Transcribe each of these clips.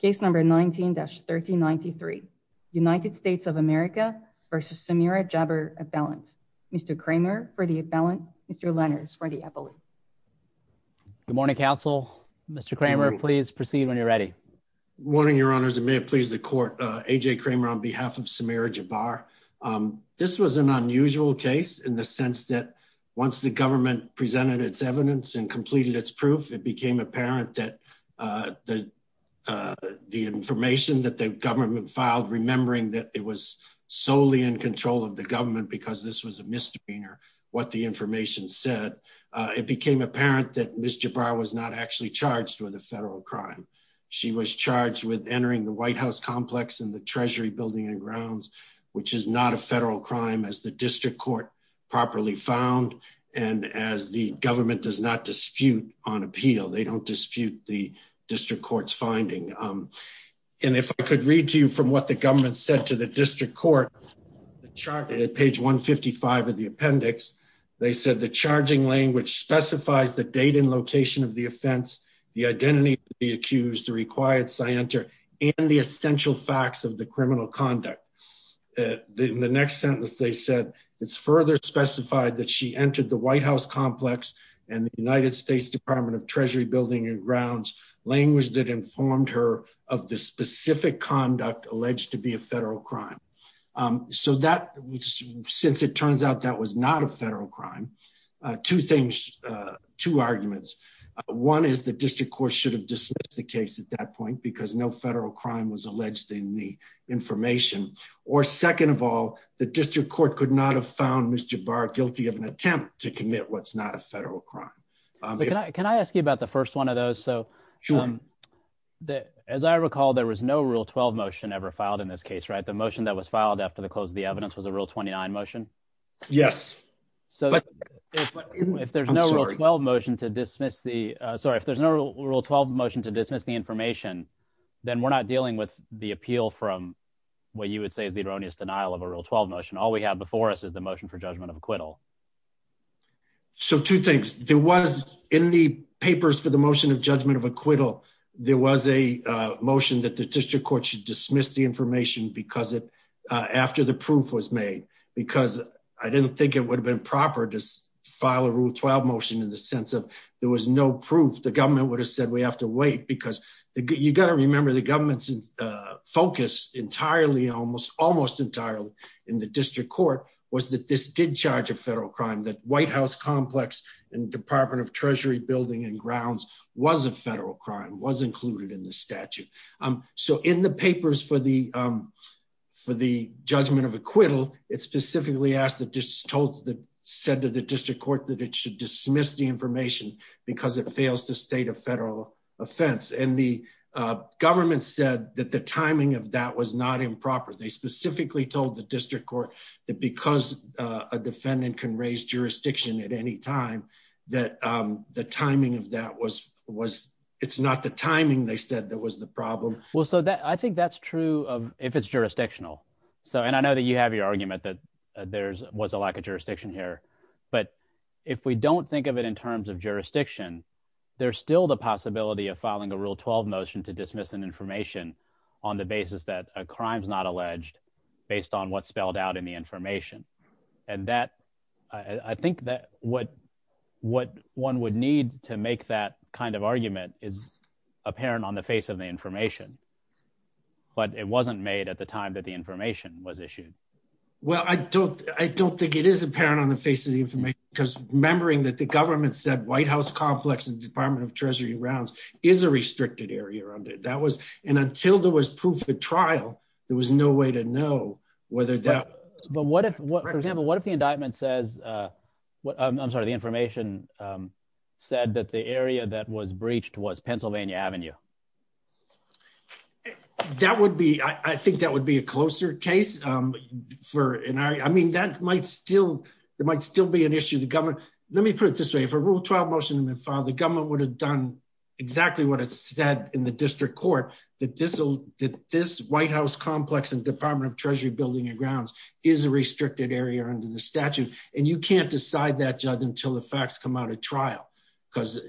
case number 19-1393 United States of America versus Samira Jabr appellant Mr. Kramer for the appellant Mr. Lenners for the appellant. Good morning counsel. Mr. Kramer please proceed when you're ready. Good morning your honors. It may have pleased the court. AJ Kramer on behalf of Samira Jabr. This was an unusual case in the sense that once the government presented its evidence and completed its proof it became apparent that the the information that the government filed remembering that it was solely in control of the government because this was a misdemeanor what the information said it became apparent that Ms. Jabr was not actually charged with a federal crime. She was charged with entering the White House complex and the Treasury building and grounds which is not a federal crime as the district court properly found and as the government does not dispute on appeal they don't dispute the district court's finding and if I could read to you from what the government said to the district court the chart at page 155 of the appendix they said the charging language specifies the date and location of the offense the identity to be accused the required scienter and the essential facts of the criminal conduct the next sentence they said it's further specified that she entered the White House complex and the United States Department of Treasury building and grounds language that informed her of the specific conduct alleged to be a federal crime so that since it turns out that was not a federal crime two things two arguments one is the district court should have dismissed the case at that point because no federal crime was alleged in the information or second of all the district court could not have found Mr. Jabr guilty of an attempt to what's not a federal crime but can I ask you about the first one of those so sure that as I recall there was no rule 12 motion ever filed in this case right the motion that was filed after the close of the evidence was a real 29 motion yes so if there's no well motion to dismiss the sorry if there's no rule 12 motion to dismiss the information then we're not dealing with the appeal from what you would say is the erroneous denial of a real 12 motion all we have before us is the motion for judgment of acquittal so two things there was in the papers for the motion of judgment of acquittal there was a motion that the district court should dismiss the information because it after the proof was made because I didn't think it would have been proper to file a rule 12 motion in the sense of there was no proof the government would have said we have to wait because you got to remember the government's focus entirely almost entirely in the district court was that this did charge a federal crime that White House complex and Department of Treasury building and grounds was a federal crime was included in the statute so in the papers for the for the judgment of acquittal it specifically asked that just told that said that the district court that it should dismiss the information because it fails to state a federal offense and the government said that the timing of that was not improper they specifically told the district court that because a defendant can raise jurisdiction at any time that the timing of that was was it's not the timing they said that was the problem well so that I think that's true of if it's jurisdictional so and I know that you have your argument that there's was a lack of jurisdiction here but if we don't think of it in terms of jurisdiction there's still the possibility of filing a rule 12 motion to dismiss an information on the basis that a crimes not alleged based on what spelled out in the information and that I think that what what one would need to make that kind of argument is apparent on the face of the information but it wasn't made at the time that the information was issued well I don't I don't think it is apparent on the face of the information because remembering that the government said White House complex and Department of Treasury rounds is a restricted area under that was and until there was proof at trial there was no way to know whether that but what if what for example what if the indictment says what I'm sorry the information said that the area that was breached was Pennsylvania Avenue that would be I think that would be a closer case for an hour I mean that might still there might still be an issue the government let me put it this way if a rule 12 motion in the file the exactly what it said in the district court that this will that this White House complex and Department of Treasury building your grounds is a restricted area under the statute and you can't decide that judge until the facts come out at trial because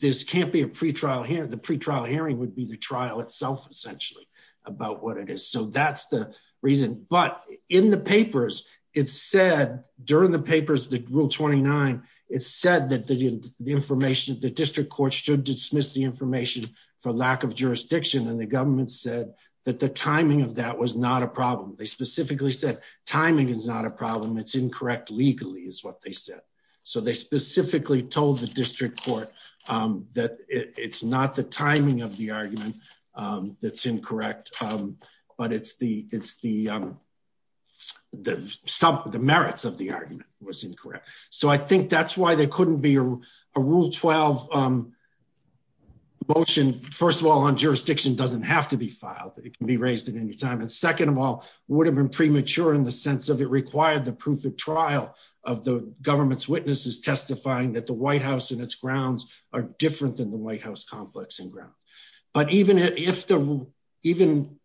this can't be a pretrial here the pretrial hearing would be the trial itself essentially about what it is so that's the reason but in the papers it said during the papers that rule 29 it said that the information the district court should dismiss the information for lack of jurisdiction and the government said that the timing of that was not a problem they specifically said timing is not a problem it's incorrect legally is what they said so they specifically told the district court that it's not the timing of the argument that's incorrect but it's the it's the the some of the merits of the motion first of all on jurisdiction doesn't have to be filed it can be raised at any time and second of all would have been premature in the sense of it required the proof of trial of the government's witnesses testifying that the White House and its grounds are different than the White House complex and ground but even if the even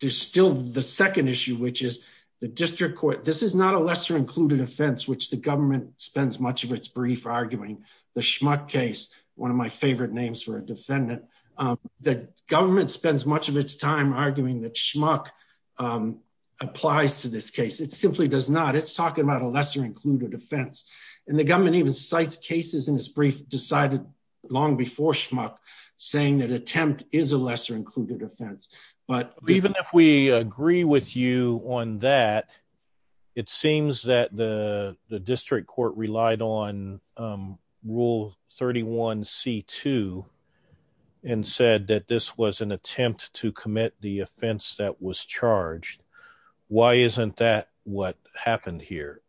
there's still the second issue which is the district court this is not a lesser included offense which the government spends much of its brief arguing the schmuck case one of my favorite names for a defendant the government spends much of its time arguing that schmuck applies to this case it simply does not it's talking about a lesser included offense and the government even cites cases in this brief decided long before schmuck saying that attempt is a lesser included offense but even if we agree with you on that it seems that the the district court relied on rule 31 c2 and said that this was an attempt to commit the offense that was charged why isn't that what happened here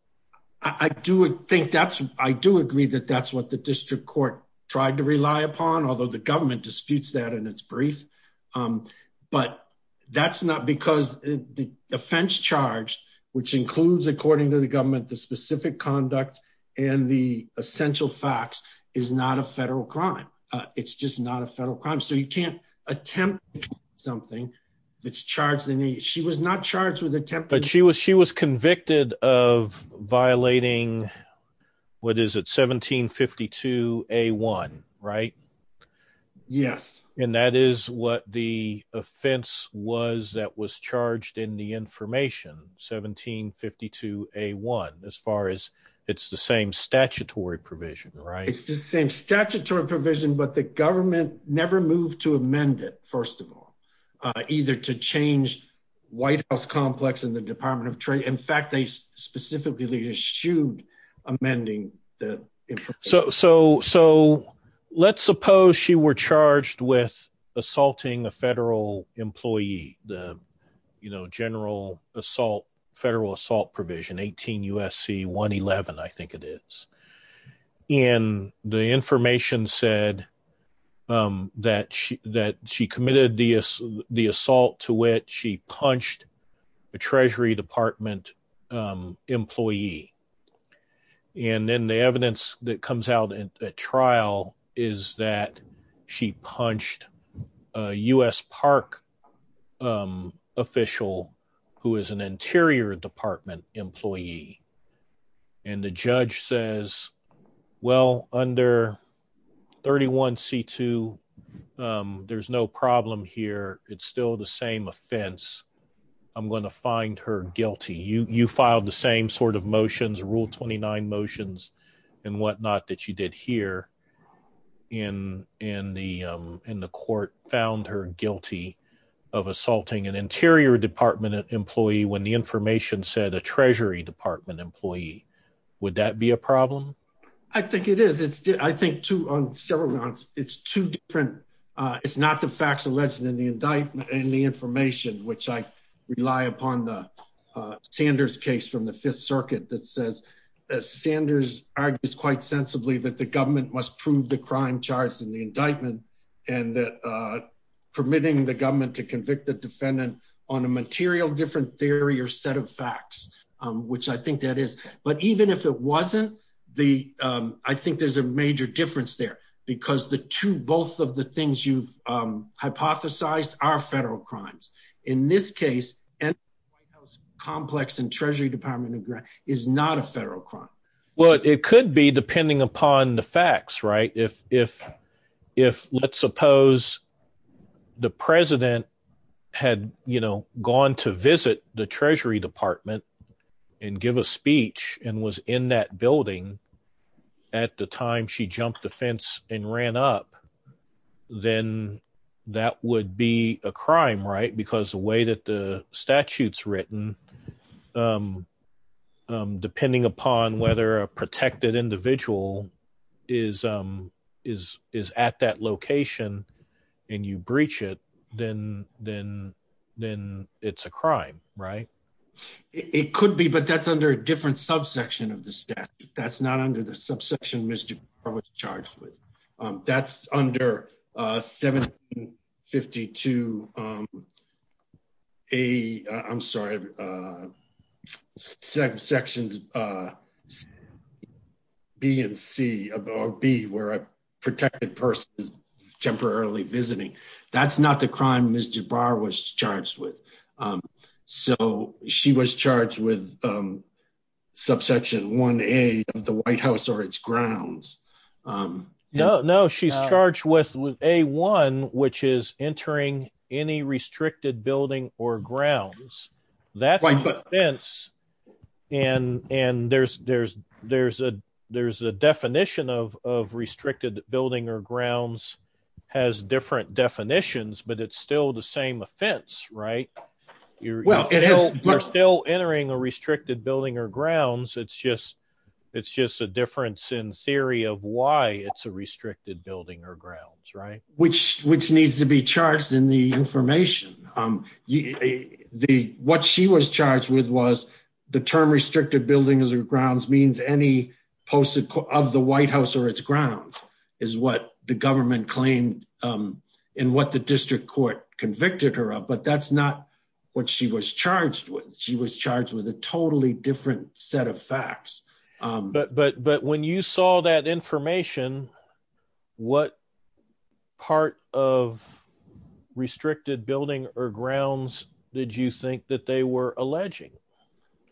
I do think that's I do agree that that's what the district court tried to rely upon although the government disputes that in but that's not because the offense charged which includes according to the government the specific conduct and the essential facts is not a federal crime it's just not a federal crime so you can't attempt something that's charged in the she was not charged with attempt but she was she was convicted of offense was that was charged in the information 1752 a1 as far as it's the same statutory provision right it's the same statutory provision but the government never moved to amend it first of all either to change White House complex in the Department of Trade in fact they specifically issued amending so so so let's suppose she were charged with assaulting a federal employee the you know general assault federal assault provision 18 USC 111 I think it is and the information said that she that she committed the the assault to it she punched a Treasury Department employee and then the evidence that comes out in a trial is that she punched a US Park official who is an Interior Department employee and the judge says well under 31 c2 there's no problem here it's still the same offense I'm going to find her guilty you you filed the same sort of motions rule 29 motions and whatnot that you did here in in the in the court found her guilty of assaulting an Interior Department employee when the information said a Treasury Department employee would that be a problem I think it is it's did I think two on several months it's two different it's not the facts alleged in the indictment and the information which I rely upon the Sanders case from the Fifth Circuit that says Sanders argues quite sensibly that the government must prove the crime charged in the indictment and that permitting the government to convict the defendant on a material different theory or set of facts which I think that is but even if it wasn't the I think there's a major difference there because the two both of the things you've hypothesized are federal crimes in this case and complex and Treasury Department of Grant is not a federal crime what it could be depending upon the facts right if if if let's suppose the president had you know gone to visit the Treasury Department and give a speech and was in that building at the time she jumped the fence and ran up then that would be a crime right because the way that the statutes written depending upon whether a protected individual is is is at that it could be but that's under a different subsection of the staff that's not under the subsection mr. I was charged with that's under 1752 a I'm sorry sections B and C above B where a protected person is temporarily visiting that's not the crime mr. Barr was charged with so she was charged with subsection 1a of the White House or its grounds no no she's charged with with a one which is entering any restricted building or grounds that's right but fence and and there's there's there's a there's a definition of of restricted building or grounds has different definitions but it's still the same offense right you're still entering a restricted building or grounds it's just it's just a difference in theory of why it's a restricted building or grounds right which which needs to be charged in the information the what she was charged with was the term restricted buildings or grounds means any post of the White House or its grounds is what the government claimed in what the district court convicted her of but that's not what she was charged with she was charged with a totally different set of facts but but but when you saw that information what part of restricted building or grounds did you think that they were alleging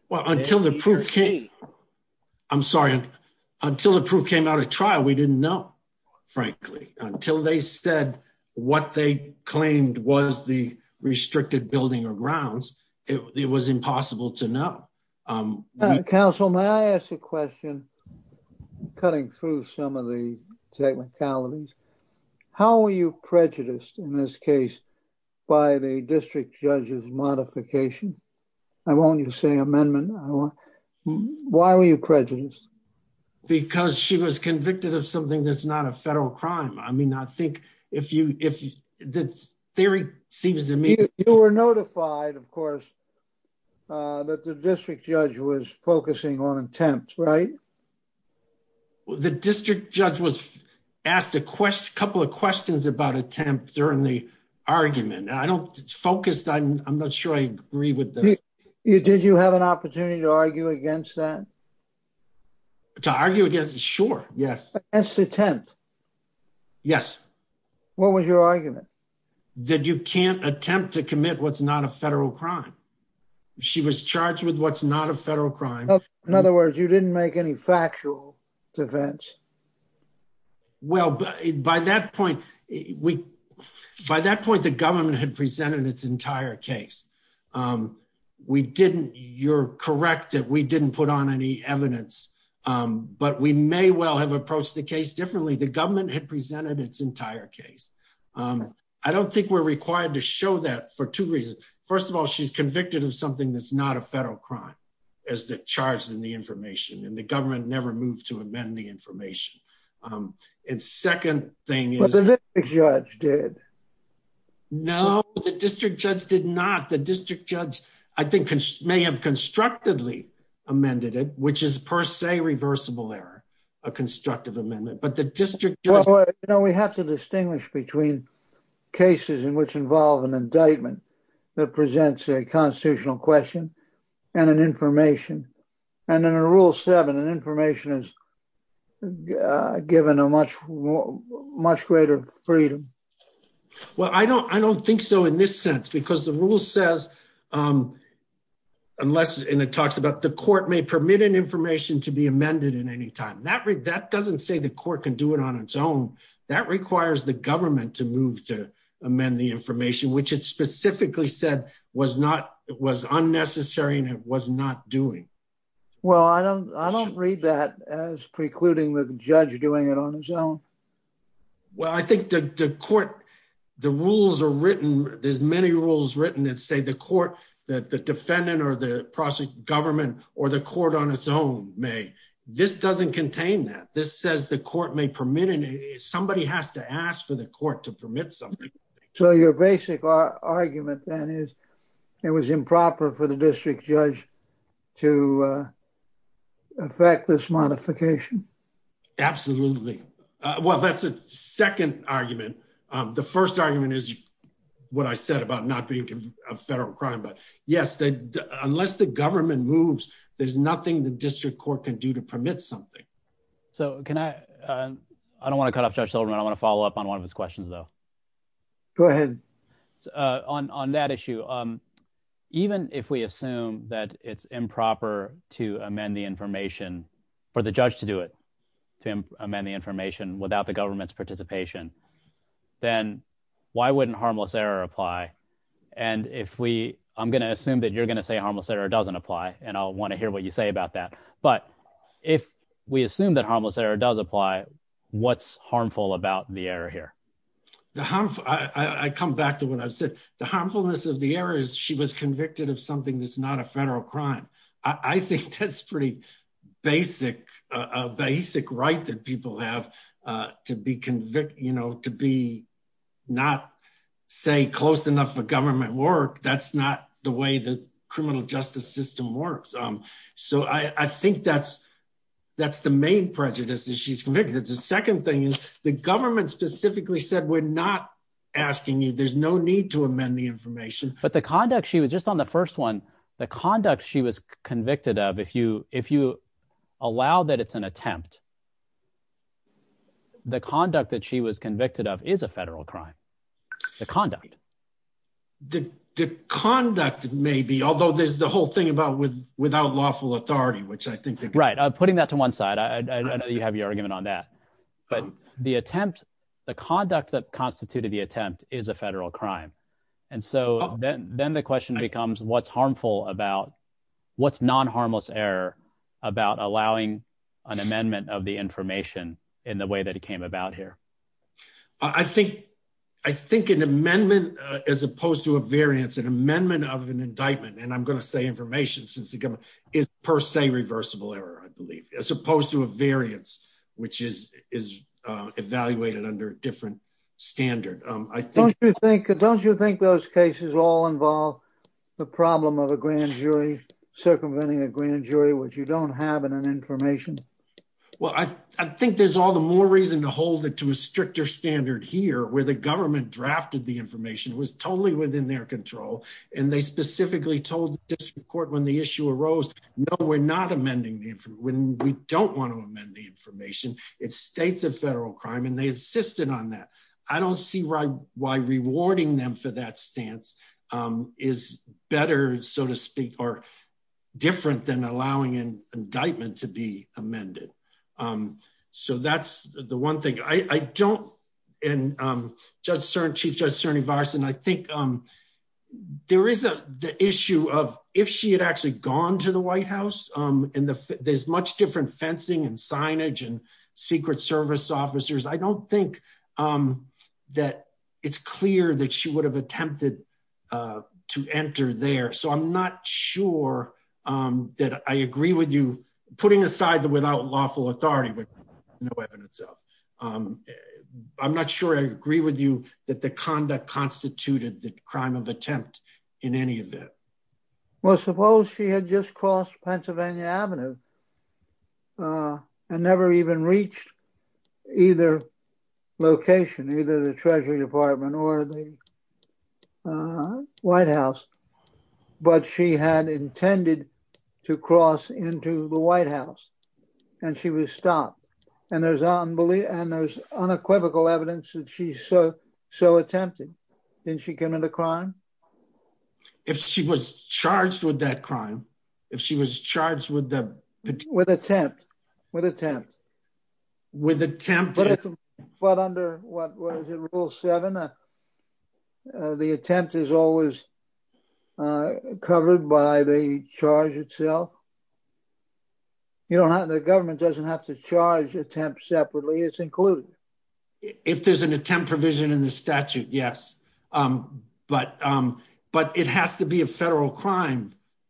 well until the proof came I'm sorry until the proof came out of trial we didn't know frankly until they said what they claimed was the restricted building or grounds it was impossible to know counsel may I ask a question cutting through some of the technicalities how are you prejudiced in this case by the district judge's modification I won't you say amendment why were you prejudiced because she was convicted of something that's not a federal crime I mean I think if you if this theory seems to me you were notified of course that the district judge was focusing on attempts right well the district judge was asked a question couple of questions about attempt during the argument I don't focus on I'm not sure I agree with you did you have an opportunity to argue against that to argue against sure yes that's the tenth yes what was your argument that you can't attempt to commit what's not a federal crime she was charged with what's not a federal crime in other words you didn't make any factual defense well by that point we by that point the corrective we didn't put on any evidence but we may well have approached the case differently the government had presented its entire case I don't think we're required to show that for two reasons first of all she's convicted of something that's not a federal crime as the charge in the information and the government never moved to amend the information and second thing is judge did no the district judge did not the district judge I think may have constructively amended it which is per se reversible error a constructive amendment but the district you know we have to distinguish between cases in which involve an indictment that presents a constitutional question and an information and in a rule seven and information is given a much more much greater freedom well I don't I don't think so in this sense because the rule says unless and it talks about the court may permit an information to be amended in any time that read that doesn't say the court can do it on its own that requires the government to move to amend the information which it specifically said was not it was unnecessary and it was not doing well I don't I don't read that as precluding the judge doing it on his own well I think the court the rules are written there's many rules written and say the court that the defendant or the process government or the court on its own may this doesn't contain that this says the court may permit somebody has to ask for the court to permit something so your basic argument then is it was improper for the modification absolutely well that's a second argument the first argument is what I said about not being a federal crime but yes that unless the government moves there's nothing the district court can do to permit something so can I I don't want to cut off judge Silverman I want to follow up on one of his questions though go ahead on on that issue even if we assume that it's for the judge to do it to amend the information without the government's participation then why wouldn't harmless error apply and if we I'm gonna assume that you're gonna say harmless error doesn't apply and I'll want to hear what you say about that but if we assume that harmless error does apply what's harmful about the error here the hump I come back to what I've said the harmfulness of the error is she was convicted of something that's not a federal crime I think that's pretty basic a basic right that people have to be convicted you know to be not say close enough for government work that's not the way the criminal justice system works um so I think that's that's the main prejudice that she's convicted the second thing is the government specifically said we're not asking you there's no need to amend the information but the conduct she was just on the first one the conduct she was convicted of if you if you allow that it's an attempt the conduct that she was convicted of is a federal crime the conduct the conduct may be although there's the whole thing about with without lawful authority which I think they're right putting that to one side I know you have your argument on that but the attempt the conduct that constituted the attempt is a federal crime and so then then the question becomes what's harmful about what's non harmless error about allowing an amendment of the information in the way that it came about here I think I think an amendment as opposed to a variance an amendment of an indictment and I'm gonna say information since the government is per se reversible error I believe as opposed to a variance which is is evaluated under a different standard I think you think don't you think those cases all involve the problem of a grand jury circumventing a grand jury which you don't have in an information well I think there's all the more reason to hold it to a stricter standard here where the government drafted the information was totally within their control and they specifically told this report when the issue arose no we're not amending the when we don't want to amend the information it states of federal crime and they insisted on that I don't see right why rewarding them for that stance is better so to speak or different than allowing an indictment to be amended so that's the one thing I don't and judge certain chief judge Cerny virus and I think there is a the issue of if she had actually gone to the there's much different fencing and signage and Secret Service officers I don't think that it's clear that she would have attempted to enter there so I'm not sure that I agree with you putting aside the without lawful authority but no evidence of I'm not sure I agree with you that the conduct constituted the crime of attempt in any event well suppose she had just crossed Pennsylvania Avenue and never even reached either location either the Treasury Department or the White House but she had intended to cross into the White House and she was stopped and there's unbelief and there's unequivocal evidence that she's so so attempted then she came into crime if she was charged with that crime if she was charged with the with attempt with attempt with attempt but under rule 7 the attempt is always covered by the charge itself you know how the government doesn't have to charge attempt separately it's included if there's an attempt provision in the statute yes but but it has to be a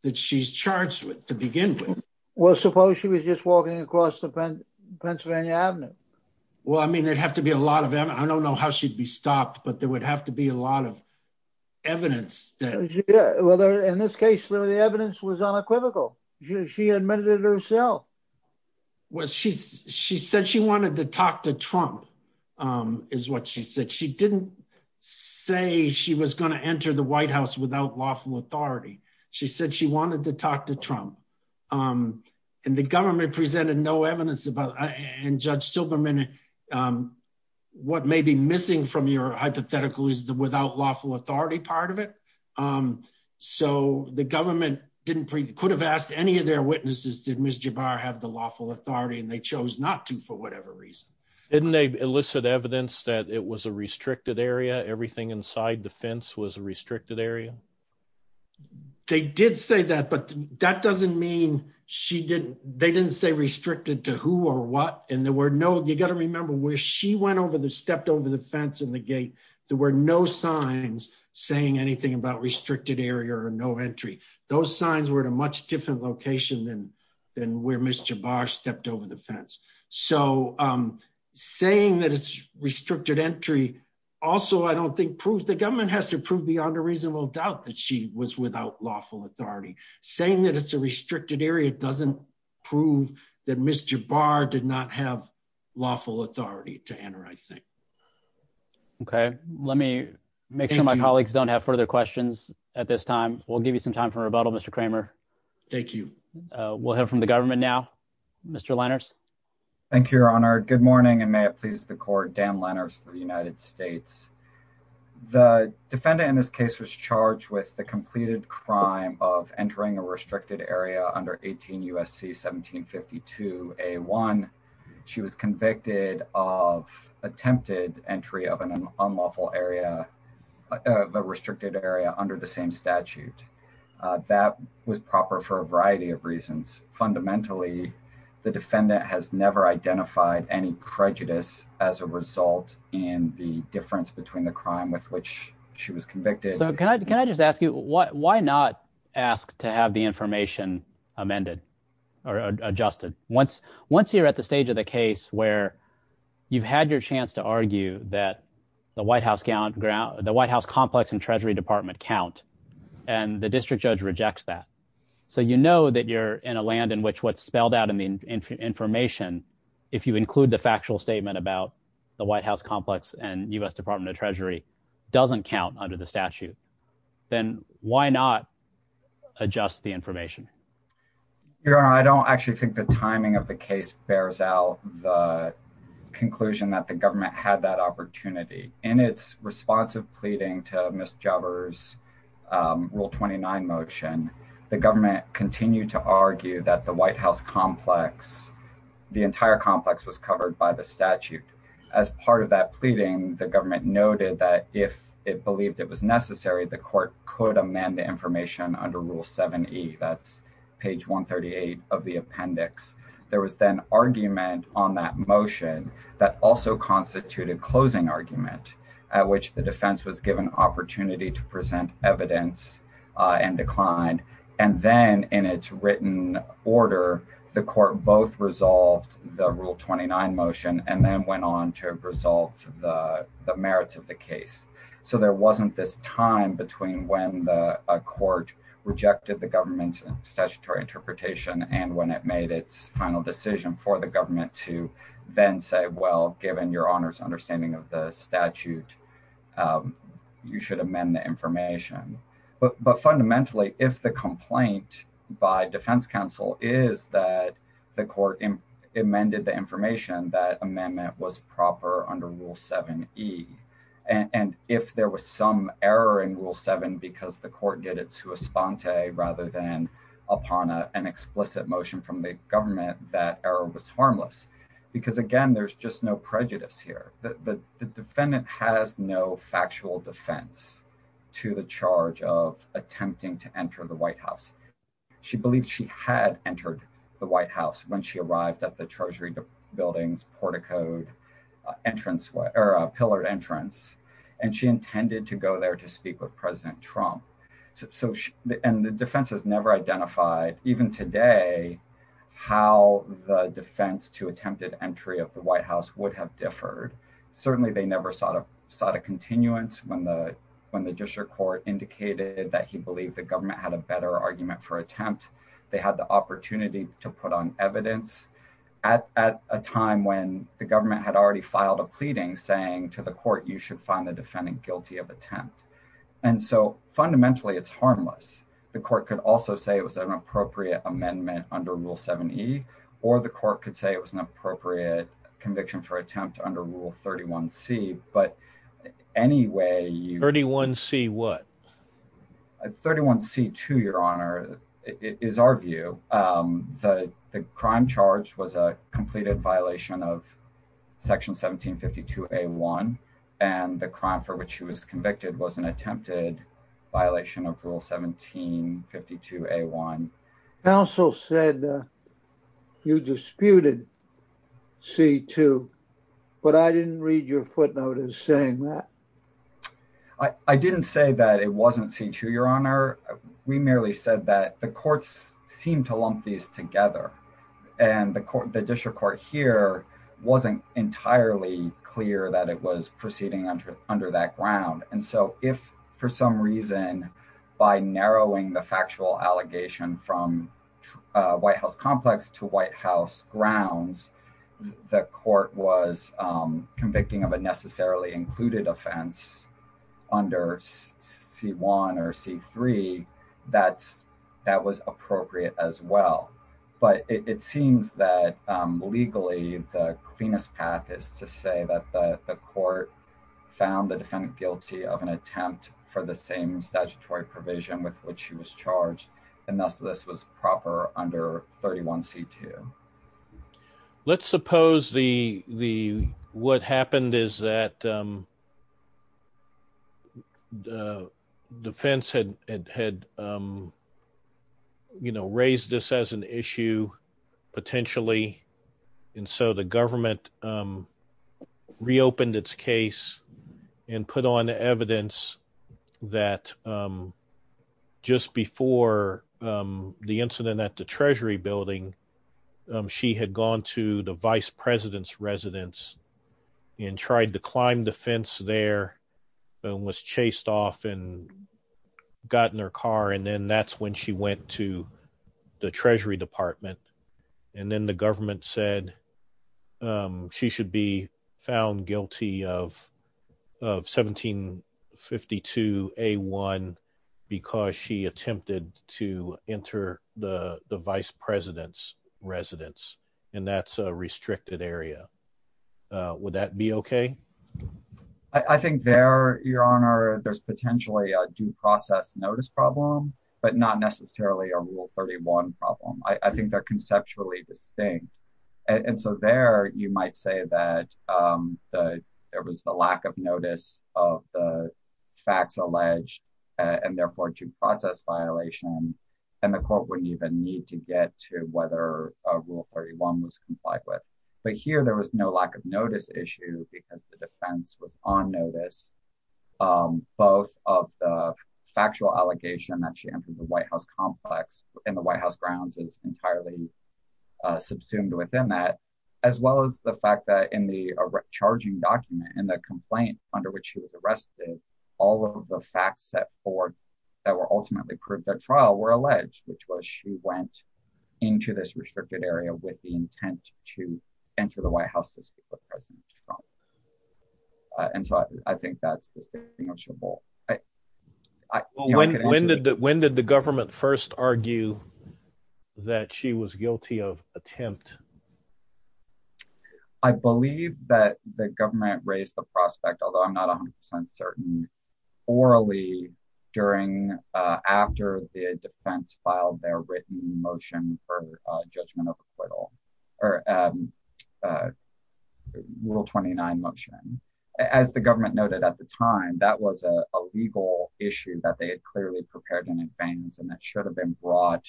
that she's charged with to begin with well suppose she was just walking across the Penn Pennsylvania Avenue well I mean they'd have to be a lot of them I don't know how she'd be stopped but there would have to be a lot of evidence that whether in this case though the evidence was unequivocal she admitted herself well she's she said she wanted to talk to Trump is what she said she didn't say she was going to enter the White House without lawful authority she said she wanted to talk to Trump and the government presented no evidence about and Judge Silberman what may be missing from your hypothetical is the without lawful authority part of it so the government didn't could have asked any of their witnesses did Ms. Jabbar have the lawful authority and they chose not to for whatever reason didn't they elicit evidence that it was a restricted area everything inside the fence was a restricted area they did say that but that doesn't mean she didn't they didn't say restricted to who or what and there were no you got to remember where she went over there stepped over the fence and the gate there were no signs saying anything about restricted area or no entry those signs were at a much different location than than where Mr. the fence so saying that it's restricted entry also I don't think proves the government has to prove beyond a reasonable doubt that she was without lawful authority saying that it's a restricted area doesn't prove that Mr. Barr did not have lawful authority to enter I think okay let me make sure my colleagues don't have further questions at this time we'll give you some time for rebuttal Mr. Kramer thank you we'll have from the government now Mr. Lenners thank you your honor good morning and may it please the court Dan Lenners for the United States the defendant in this case was charged with the completed crime of entering a restricted area under 18 USC 1752 a1 she was convicted of attempted entry of an unlawful area the restricted area under the same statute that was proper for a variety of reasons fundamentally the defendant has never identified any prejudice as a result in the difference between the crime with which she was convicted so can I just ask you what why not ask to have the information amended or adjusted once once you're at the stage of the case where you've had your chance to argue that the White House count ground the White House complex and Treasury Department count and the district judge rejects that so you know that you're in a land in which what's spelled out in the information if you include the factual statement about the White House complex and US Department of Treasury doesn't count under the statute then why not adjust the information your honor I don't actually think the timing of the case bears out the conclusion that the government had that opportunity and it's responsive pleading to miss jobbers rule 29 motion the government continued to argue that the White House complex the entire complex was covered by the statute as part of that pleading the government noted that if it believed it was necessary the court could amend the information under rule 7e that's page 138 of the appendix there was then argument on that motion that also constituted closing argument at which the defense was given opportunity to present evidence and declined and then in its written order the court both resolved the rule 29 motion and then went on to resolve the merits of the case so there wasn't this time between when the court rejected the government's statutory interpretation and when it made its final decision for the your honors understanding of the statute you should amend the information but fundamentally if the complaint by defense counsel is that the court in amended the information that amendment was proper under rule 7e and if there was some error in rule 7 because the court did it to a sponte rather than upon an explicit motion from the government that error was harmless because again there's just no prejudice here the defendant has no factual defense to the charge of attempting to enter the White House she believed she had entered the White House when she arrived at the Treasury buildings port-a-code entrance where a pillar entrance and she intended to go there to speak with President Trump so and the defense has never identified even today how the defense to attempted entry of the White House would have differed certainly they never sought a sought a continuance when the when the district court indicated that he believed the government had a better argument for attempt they had the opportunity to put on evidence at a time when the government had already filed a pleading saying to the court you should find the defendant guilty of attempt and so fundamentally it's harmless the court could also say it was an appropriate amendment under rule 7e or the court could say it was an appropriate conviction for attempt under rule 31 C but anyway you 31 see what 31 c2 your honor is our view the crime charge was a completed violation of section 1752 a1 and the crime for which she was also said you disputed c2 but I didn't read your footnotes saying that I didn't say that it wasn't c2 your honor we merely said that the courts seemed to lump these together and the court the district court here wasn't entirely clear that it was proceeding under under that ground and so if for some reason by narrowing the factual allegation from White House complex to White House grounds the court was convicting of a necessarily included offense under c1 or c3 that's that was appropriate as well but it seems that legally the cleanest path is to say that the court found the defendant guilty of an attempt for the same statutory provision with which she was charged and thus this was proper under 31 c2 let's suppose the the what happened is that the defense had had you know raised this as an issue potentially and so the government reopened its case and put on the evidence that just before the incident at the Treasury building she had gone to the vice president's residence and tried to climb the fence there and was chased off and got in her car and then that's when she went to the Treasury Department and then the government said she should be found guilty of 1752 a1 because she attempted to enter the the vice president's residence and that's a restricted area would that be okay I think there your honor there's potentially a due process notice problem but not necessarily a rule 31 problem I think they're conceptually distinct and so there you might say that there was the lack of notice of the facts alleged and therefore to process violation and the court wouldn't even need to get to whether a rule 31 was complied with but here there was no lack of notice issue because the defense was on notice both of the factual allegation that she entered the White House complex and the White House grounds is entirely subsumed within that as well as the fact that in the charging document and the complaint under which he was arrested all of the facts set for that were ultimately proved that trial were alleged which was she went into this restricted area with the intent to enter the White House and so I think that's distinguishable when did that when did the government first argue that she was guilty of attempt I believe that the government raised the prospect although I'm not a hundred percent certain orally during after the defense filed their written motion for judgment of acquittal or rule 29 motion as the government noted at the time that was a legal issue that they had clearly prepared in advance and that should have been brought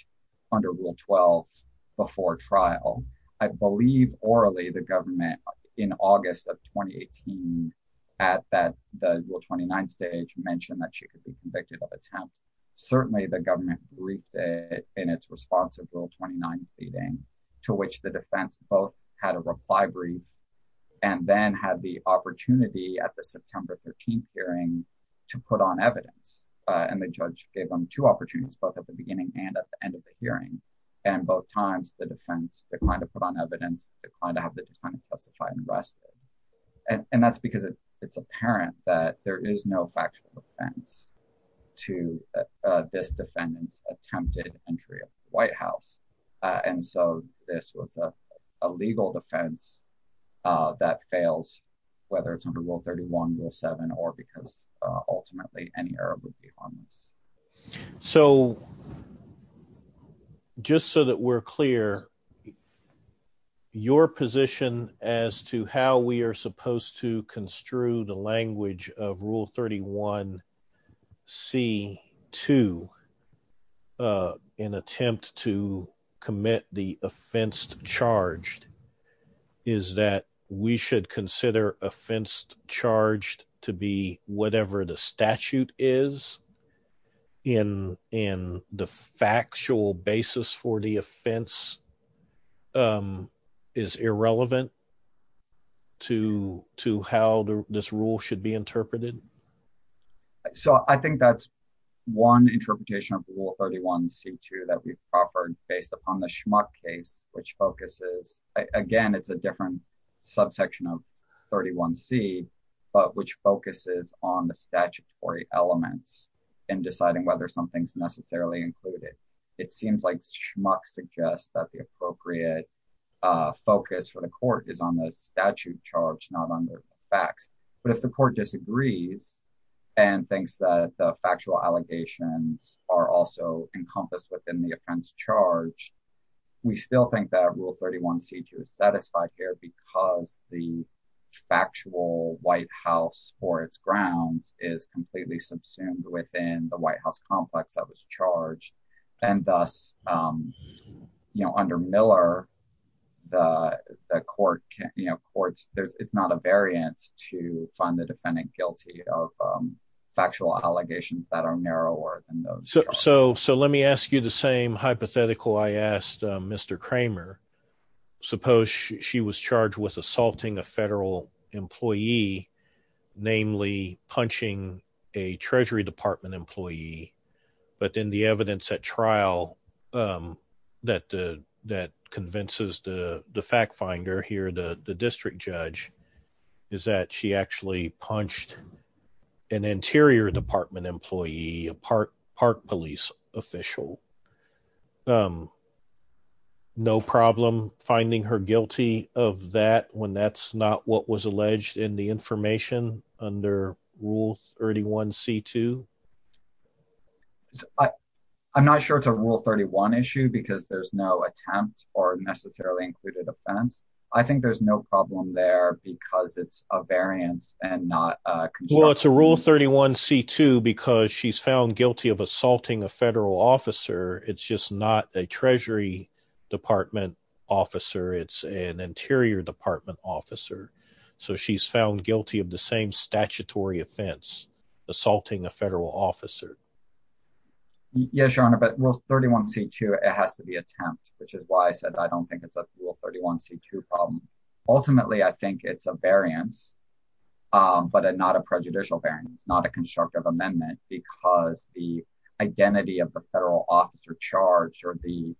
under rule 12 before trial I believe orally the government in August of 2018 at that the rule 29 stage mentioned that she could be convicted of attempt certainly the government briefed in its response of rule 29 feeding to which the defense both had a reply brief and then had the opportunity at the September 13th hearing to put on evidence and the judge gave them two opportunities both at the beginning and at the end of the hearing and both times the defense declined to put on evidence to kind of have the defendant justified and rested and that's because it's apparent that there is no factual defense to this defendants attempted entry of the White House and so this was a legal defense that fails whether it's under rule 31 rule 7 or ultimately any error would be on this so just so that we're clear your position as to how we are supposed to construe the language of rule 31 C 2 in attempt to commit the offense charged is that we should consider offense charged to be whatever the statute is in in the factual basis for the offense is irrelevant to to how this rule should be interpreted so I think that's one interpretation of rule 31 C 2 that we've offered based upon the schmuck case which focuses again it's a different subsection of 31 C but which focuses on the statutory elements in deciding whether something's necessarily included it seems like schmuck suggests that the appropriate focus for the court is on the statute charge not under facts but if the court disagrees and thinks that the factual allegations are also encompassed within the offense charge we still think that rule 31 C 2 is satisfied here because the factual White House or its grounds is completely subsumed within the White House complex that was charged and thus you know under Miller the court can't you know courts there's it's not a variance to find the defendant guilty of factual allegations that are narrower than those so so let me ask you the same hypothetical I asked mr. Kramer suppose she was charged with assaulting a federal employee namely punching a Treasury Department employee but then the evidence at trial that that convinces the the fact finder here the the district judge is that she actually punched an Interior Department employee a park park police official no problem finding her guilty of that when that's not what was alleged in the information under rule 31 C 2 I I'm not sure it's a rule 31 issue because there's no attempt or necessarily included offense I think there's no problem there because it's a variance and not well it's a rule 31 C 2 because she's found guilty of assaulting a federal officer it's just not a Treasury Department officer it's an Interior Department officer so she's found guilty of the same statutory offense assaulting a federal officer yes your honor but rule 31 C 2 it has to be attempt which is why I said I don't think it's a rule 31 C 2 ultimately I think it's a variance but not a prejudicial bearing it's not a constructive amendment because the identity of the federal officer charge or the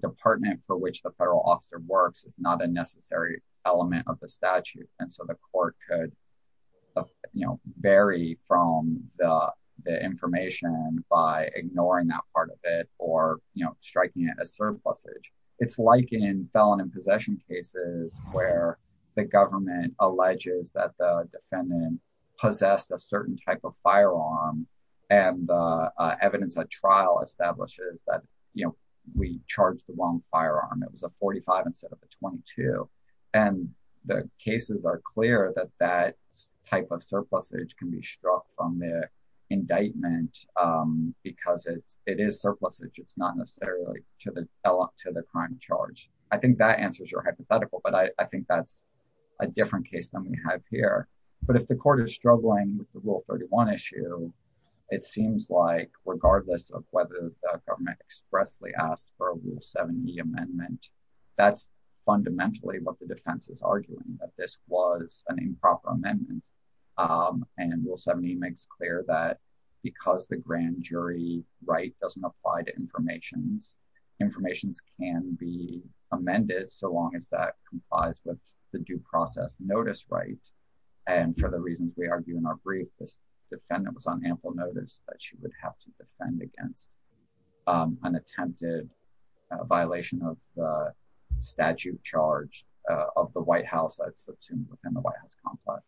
department for which the federal officer works it's not a necessary element of the statute and so the court could you know vary from the information by ignoring that part of it or you know striking it as surplus age it's like in felon in possession cases where the government alleges that the defendant possessed a certain type of firearm and evidence a trial establishes that you know we charged the wrong firearm it was a 45 instead of a 22 and the cases are clear that that type of surplus age can be struck from the indictment because it's it is surplus it's not necessarily to the to the crime charge I think that answers your hypothetical but I think that's a different case than we have here but if the court is struggling with the rule 31 issue it seems like regardless of whether government expressly asked for a rule 70 amendment that's fundamentally what the defense is arguing that this was an improper amendment and rule 70 makes clear that because the grand jury right doesn't apply to information's information's can be amended so long as that complies with the due process notice right and for the reasons we argue in our brief this defendant was on ample notice that she would have to defend against an attempted violation of statute charge of the White House that's a tune within the White House complex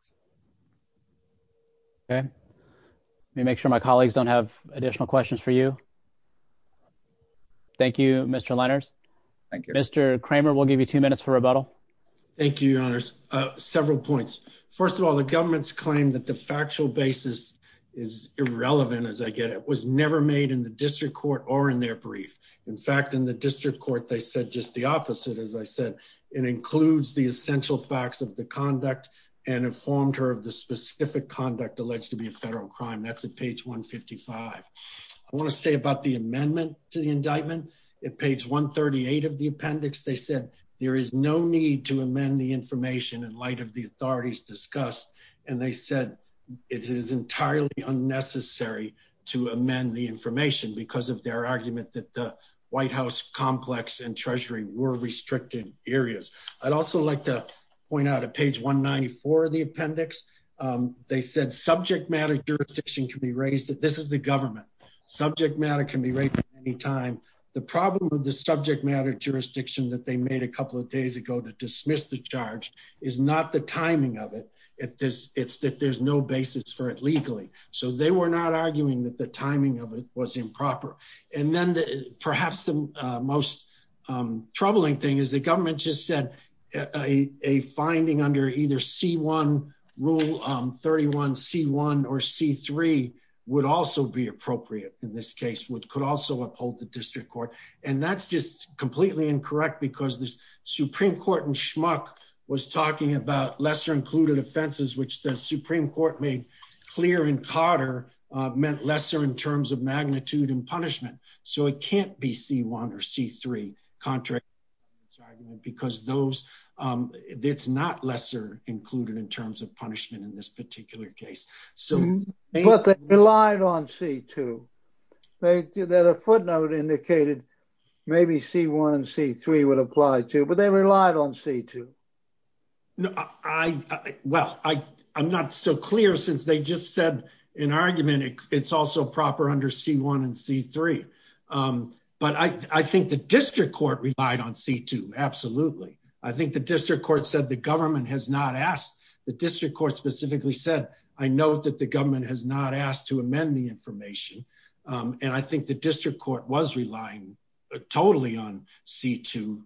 okay let me make sure my colleagues don't have additional questions for you thank you mr. Lenners thank you mr. Kramer will give you two minutes for rebuttal thank you your honors several points first of all the government's claim that the factual basis is irrelevant as I get it was never made in the district court or in their brief in fact in the district court they said just the opposite as I said it includes the essential facts of the conduct and informed her of the specific conduct alleged to be a federal crime that's at page 155 I want to say about the amendment to the indictment at page 138 of the appendix they said there is no need to amend the information in light of the authorities discussed and they said it is entirely unnecessary to amend the information because of their argument that the White House complex and Treasury were restricted areas I'd also like to point out at page 194 of the appendix they said subject matter jurisdiction can be raised that this is the government subject matter can be raised at any time the problem with the subject matter jurisdiction that they made a couple of days ago to dismiss the charge is not the timing of it if this it's that there's no basis for it legally so they were not arguing that the timing of it was improper and then the perhaps the most troubling thing is the government just said a finding under either c1 rule 31 c1 or c3 would also be appropriate in this case which could also uphold the district court and that's just completely incorrect because this Supreme Court and schmuck was talking about lesser included offenses which the Supreme Court made clear in Carter meant lesser in terms of c1 or c3 contract because those it's not lesser included in terms of punishment in this particular case so what they relied on c2 they did that a footnote indicated maybe c1 and c3 would apply to but they relied on c2 I well I I'm not so clear since they just said in argument it's also proper under c1 and c3 but I think the district court relied on c2 absolutely I think the district court said the government has not asked the district court specifically said I note that the government has not asked to amend the information and I think the district court was relying totally on c2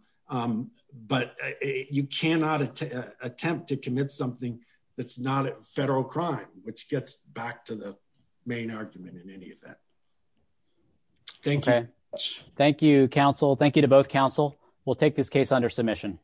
but you cannot attempt to commit something that's not a federal crime which gets back to the main argument in any of that thank you thank you counsel thank you to both counsel we'll take this case under submission